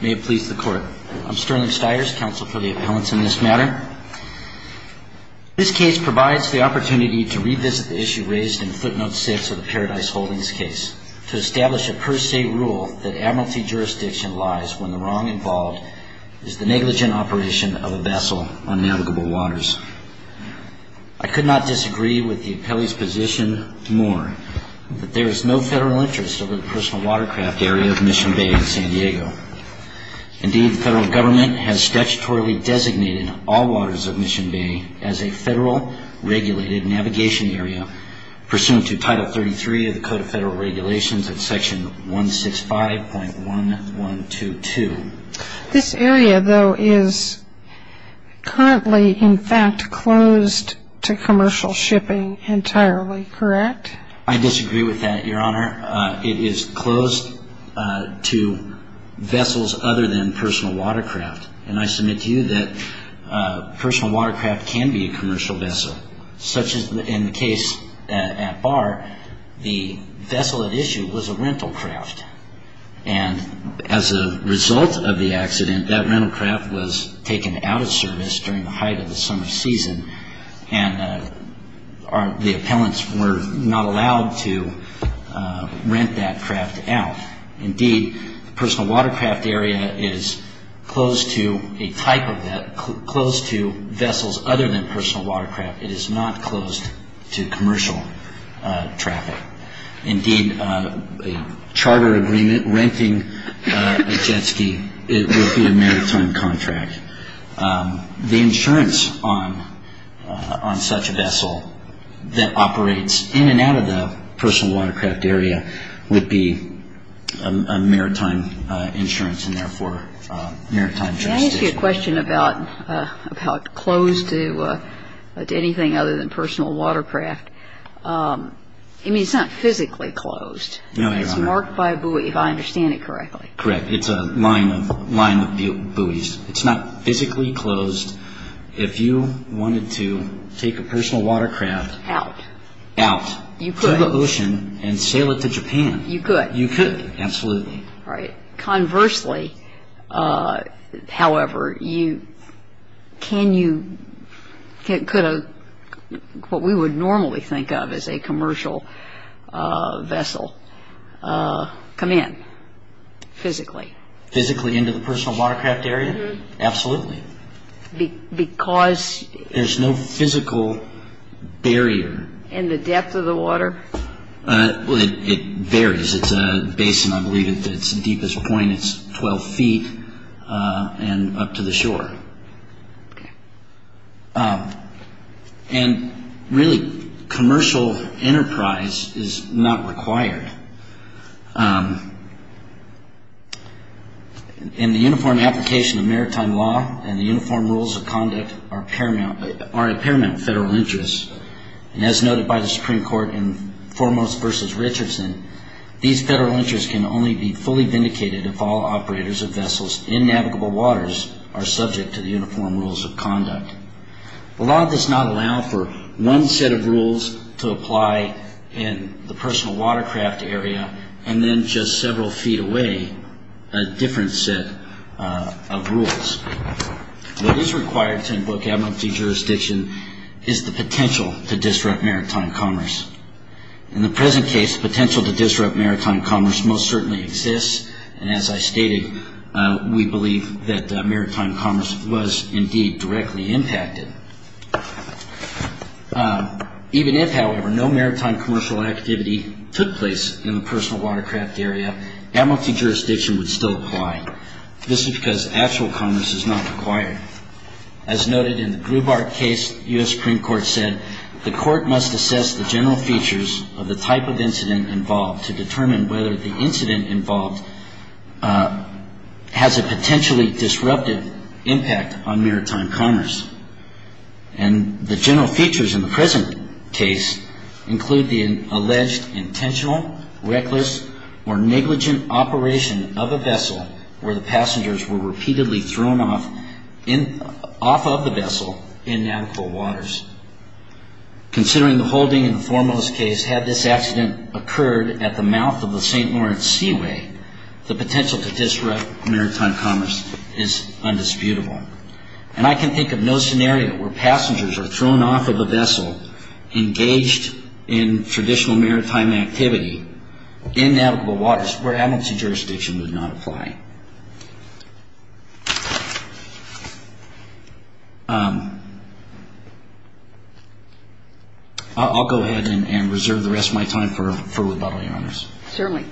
May it please the court. I'm Sterling Stiers, counsel for the appellants in this matter. This case provides the opportunity to revisit the issue raised in footnote 6 of the Paradise Holdings case to establish a per se rule that admiralty jurisdiction lies when the wrong involved is the negligent operation of a vessel on navigable waters. I could not disagree with the appellee's position more that there is no federal interest over the personal watercraft area of Mission Bay in San Diego. Indeed, the federal government has statutorily designated all waters of Mission Bay as a federal regulated navigation area pursuant to Title 33 of the Code of Federal Regulations at Section 165.1122. This area though is currently in fact closed to commercial shipping entirely, correct? I disagree with that, Your Honor. It is closed to vessels other than personal watercraft. And I submit to you that personal watercraft can be a commercial vessel. Such as in the case at Barr, the vessel at issue was a rental craft. And as a result of the accident, that rental craft was taken out of service during the height of the summer season and the appellants were not allowed to rent that craft out. And indeed, the personal watercraft area is closed to a type of that, closed to vessels other than personal watercraft. It is not closed to commercial traffic. Indeed, a charter agreement renting a jet ski would be a maritime contract. The insurance on such a vessel that operates in and out of the personal watercraft area would be a maritime insurance and therefore a maritime jurisdiction. May I ask you a question about closed to anything other than personal watercraft? I mean, it's not physically closed. No, Your Honor. It's marked by a buoy, if I understand it correctly. Correct. It's a line of buoys. It's not physically closed. If you wanted to take a personal watercraft out to the ocean and sail it to Japan, you could. You could, absolutely. Conversely, however, what we would normally think of as a commercial vessel, come in physically. Physically into the personal watercraft area? Absolutely. Because? There's no physical barrier. In the depth of the water? Well, it varies. It's a basin. I believe it's the deepest point. It's 12 feet and up to the shore. Okay. And really commercial enterprise is not required. In the uniform application of maritime law, and the uniform rules of conduct are a paramount federal interest. And as noted by the Supreme Court in Foremost v. Richardson, these federal interests can only be fully vindicated if all operators of vessels in navigable waters are subject to the uniform rules of conduct. The law does not allow for one set of rules to apply in the personal watercraft area and then just several feet away, a different set of rules. What is required to invoke abnormality jurisdiction is the potential to disrupt maritime commerce. In the present case, the potential to disrupt maritime commerce most certainly exists, and as I stated, we believe that maritime commerce was indeed directly impacted. Even if, however, no maritime commercial activity took place in the personal watercraft area, abnormality jurisdiction would still apply. This is because actual commerce is not required. As noted in the Grubart case, the U.S. Supreme Court said the court must assess the general features of the type of incident involved to determine whether the incident involved has a potentially disruptive impact on maritime commerce. I can think of no scenario where passengers are thrown off of a vessel engaged in traditional maritime activity in navigable waters where abnormality jurisdiction would not apply. I'll go ahead and reserve the rest of my time for rebuttal, Your Honors. Certainly.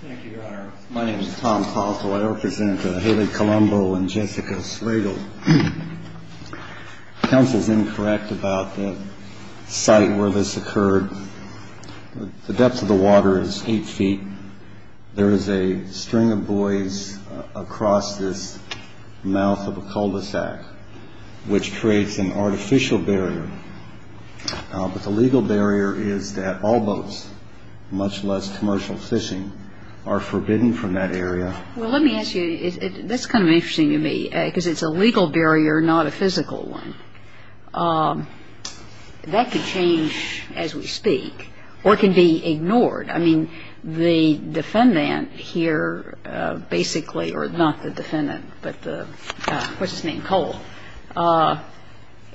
Thank you, Your Honor. My name is Tom Paulso. I represent Haley Colombo and Jessica Slagle. Counsel is incorrect about the site where this occurred. The depth of the water is 8 feet. There is a string of buoys across this mouth of a cul-de-sac, which creates an artificial barrier. But the legal barrier is that all boats, much less commercial fishing, are forbidden from that area. Well, let me ask you, that's kind of interesting to me, because it's a legal barrier, not a commercial one. That could change as we speak, or it can be ignored. I mean, the defendant here basically, or not the defendant, but the, what's his name, Cole,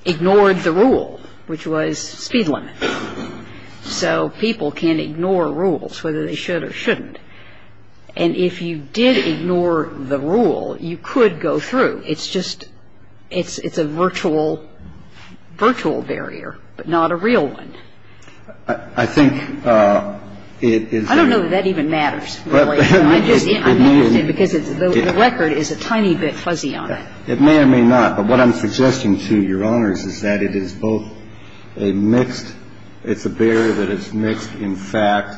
ignored the rule, which was speed limit. So people can't ignore rules, whether they should or shouldn't. And if you did ignore the rule, you could go through. It's just, it's a virtual barrier, but not a real one. I think it is the rule. I don't know that that even matters, really. I'm just interested because the record is a tiny bit fuzzy on it. It may or may not. But what I'm suggesting to Your Honors is that it is both a mixed, it's a barrier that is mixed in fact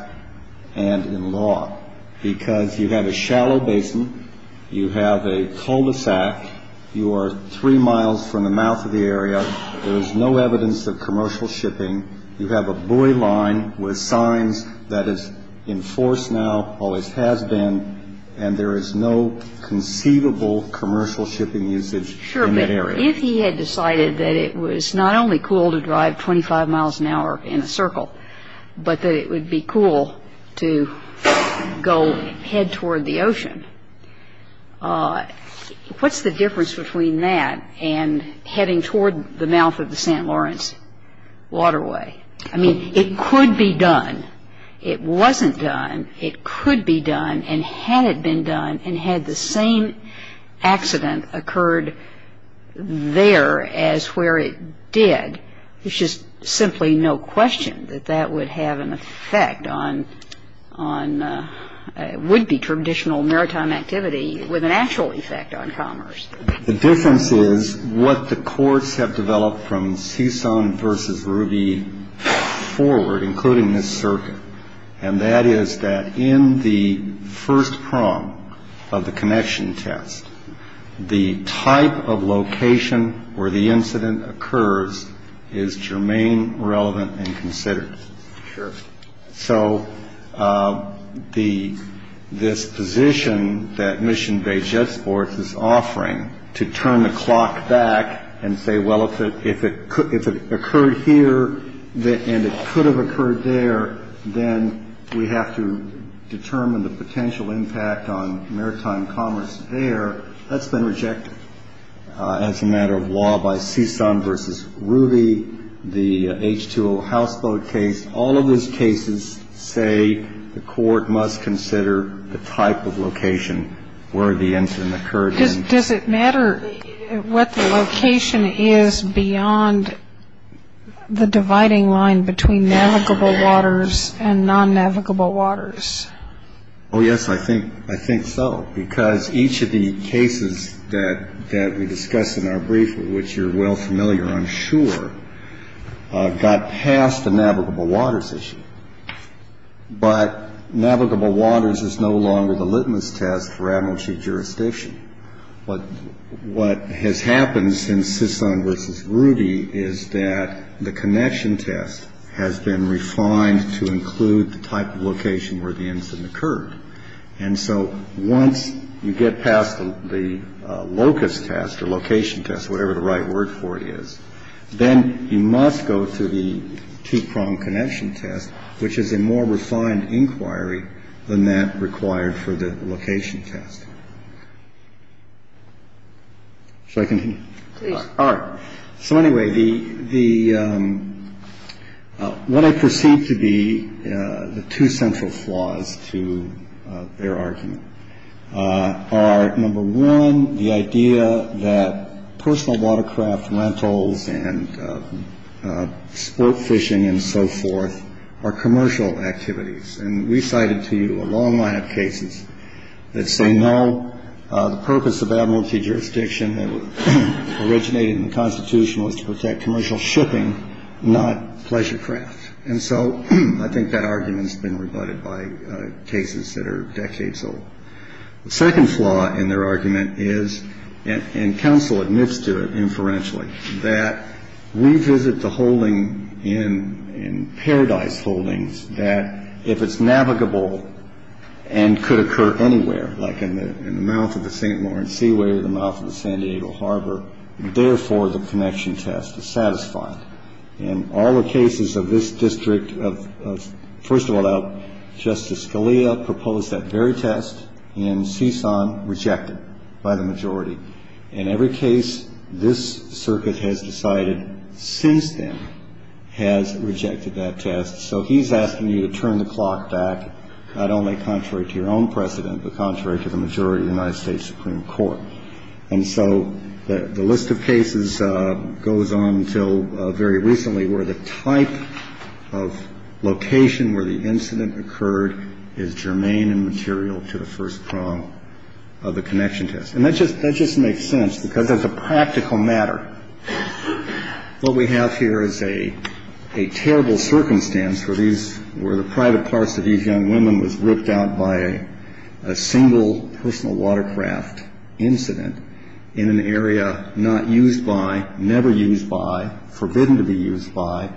and in law. Because you have a shallow basin, you have a cul-de-sac, you are three miles from the mouth of the area, there is no evidence of commercial shipping, you have a buoy line with signs that is in force now, always has been, and there is no conceivable commercial shipping usage in that area. If he had decided that it was not only cool to drive 25 miles an hour in a circle, but that it would be cool to go head toward the ocean, what's the difference between that and heading toward the mouth of the St. Lawrence waterway? I mean, it could be done. It wasn't done. It could be done. And had it been done, and had the same accident occurred, there as where it did, it's just simply no question that that would have an effect on, would be traditional maritime activity with an actual effect on commerce. The difference is what the courts have developed from Susan v. Ruby forward, including this circuit, and that is that in the first prong of the connection test, the type of location where the incident occurs is germane, relevant, and considered. So this position that mission-based jet sports is offering to turn the clock back and say, well, if it occurred here and it could have occurred there, then we have to determine the potential impact on maritime commerce there. That's been rejected as a matter of law by Susan v. Ruby, the H2O houseboat case. All of those cases say the court must consider the type of location where the incident occurred. Does it matter what the location is beyond the dividing line between that location and that location? Navigable waters and non-navigable waters. Oh, yes, I think so, because each of the cases that we discuss in our brief, which you're well familiar, I'm sure, got past the navigable waters issue. But navigable waters is no longer the litmus test for advocacy jurisdiction. But what has happened since Susan v. Ruby is that the connection test has been rejected. And the location test is no longer the litmus test for advocacy jurisdiction. The location test has been refined to include the type of location where the incident occurred. And so once you get past the locus test or location test, whatever the right word for it is, then you must go to the two-pronged connection test, which is a more refined inquiry than that required for the location test. So those seem to be the two central flaws to their argument are, number one, the idea that personal watercraft rentals and sport fishing and so forth are commercial activities. And we cited to you a long line of cases that say no, the purpose of advocacy jurisdiction that originated in the Constitution was to protect commercial shipping, not pleasure craft. So I think that argument has been rebutted by cases that are decades old. The second flaw in their argument is, and counsel admits to it inferentially, that we visit the holding in paradise holdings that if it's navigable and could occur anywhere, like in the mouth of the St. Lawrence Seaway or the mouth of the San Diego Harbor, therefore the connection test is satisfied. And all the cases of this district of, first of all, Justice Scalia proposed that very test and CSUN rejected by the majority. In every case, this circuit has decided since then has rejected that test. So he's asking you to turn the clock back, not only contrary to your own precedent, but contrary to the majority of the United States Supreme Court. And so the list of cases goes on until the end of the year. And we have a list of very recently where the type of location where the incident occurred is germane and material to the first prong of the connection test. And that just makes sense, because as a practical matter, what we have here is a terrible circumstance where the private parts of these young women was ripped out by a single personal watercraft incident in an area not used by, never used by, forbidden to be used by,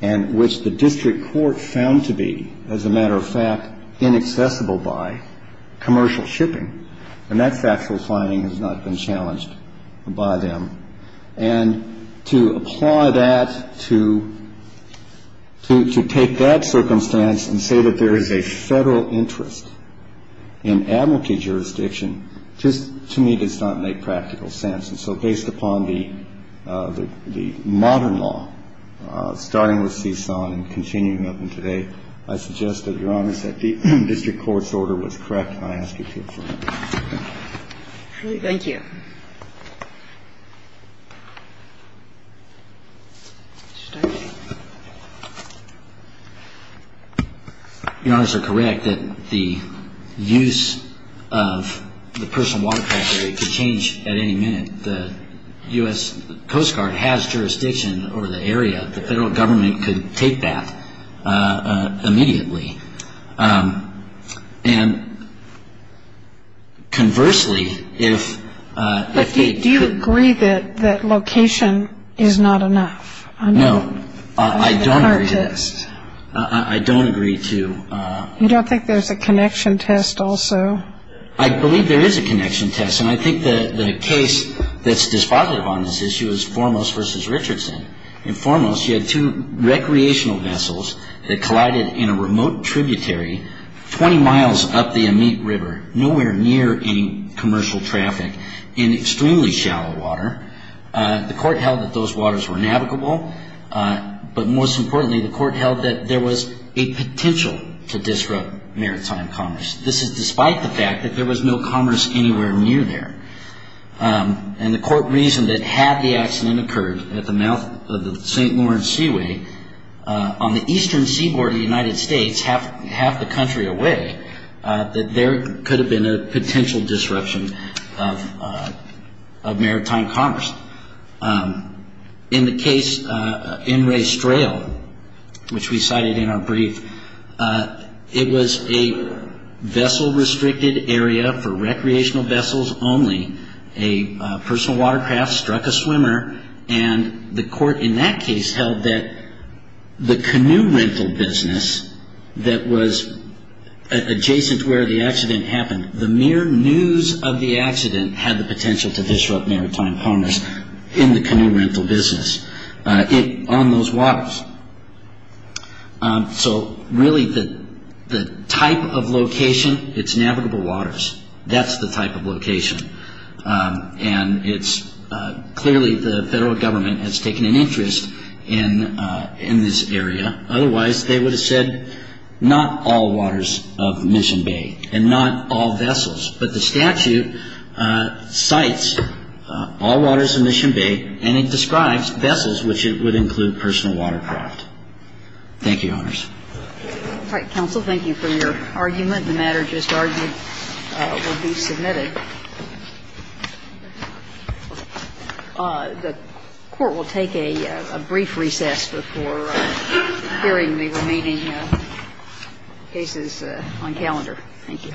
and which the district court found to be, as a matter of fact, inaccessible by commercial shipping. And that factual finding has not been challenged by them. And to apply that to take that circumstance and say that there is a federal interest in advocacy jurisdiction just to me does not make practical sense. And so based upon the modern law, starting with CSUN and continuing up until today, I suggest that, Your Honor, that the district court's order was correct, and I ask you to confirm it. Thank you. Your Honors, you're correct that the use of the personal watercraft today could change everything in the United States. I mean, at any minute, the U.S. Coast Guard has jurisdiction over the area. The federal government could take that immediately. And conversely, if they could But do you agree that location is not enough? No, I don't agree to that. The case that's dispositive on this issue is Foremost v. Richardson. In Foremost, you had two recreational vessels that collided in a remote tributary 20 miles up the Amite River, nowhere near any commercial traffic, in extremely shallow water. The court held that those waters were navigable, but most importantly, the court held that there was a potential to disrupt maritime commerce. This is despite the fact that there was no commerce anywhere near there. And the court reasoned that had the accident occurred at the mouth of the St. Lawrence Seaway, on the eastern seaboard of the United States, half the country away, that there could have been a potential disruption of maritime commerce. In the case, N. Ray Strail, which we cited in our brief, it was a vessel-restricted area for recreational vessels only. A personal watercraft struck a swimmer, and the court in that case held that the canoe rental business that was adjacent to where the accident happened, the mere news of the accident had the potential to disrupt maritime commerce in the canoe rental business on those waters. So really, the type of location, it's navigable waters. That's the type of location. And it's clearly the Federal Government has taken an interest in this area. Otherwise, they would have said not all waters of Mission Bay, and not all vessels. But the statute cites all waters of Mission Bay, and it describes vessels, which would include personal watercraft. The Court will take a brief recess before hearing the remaining cases on calendar. Thank you.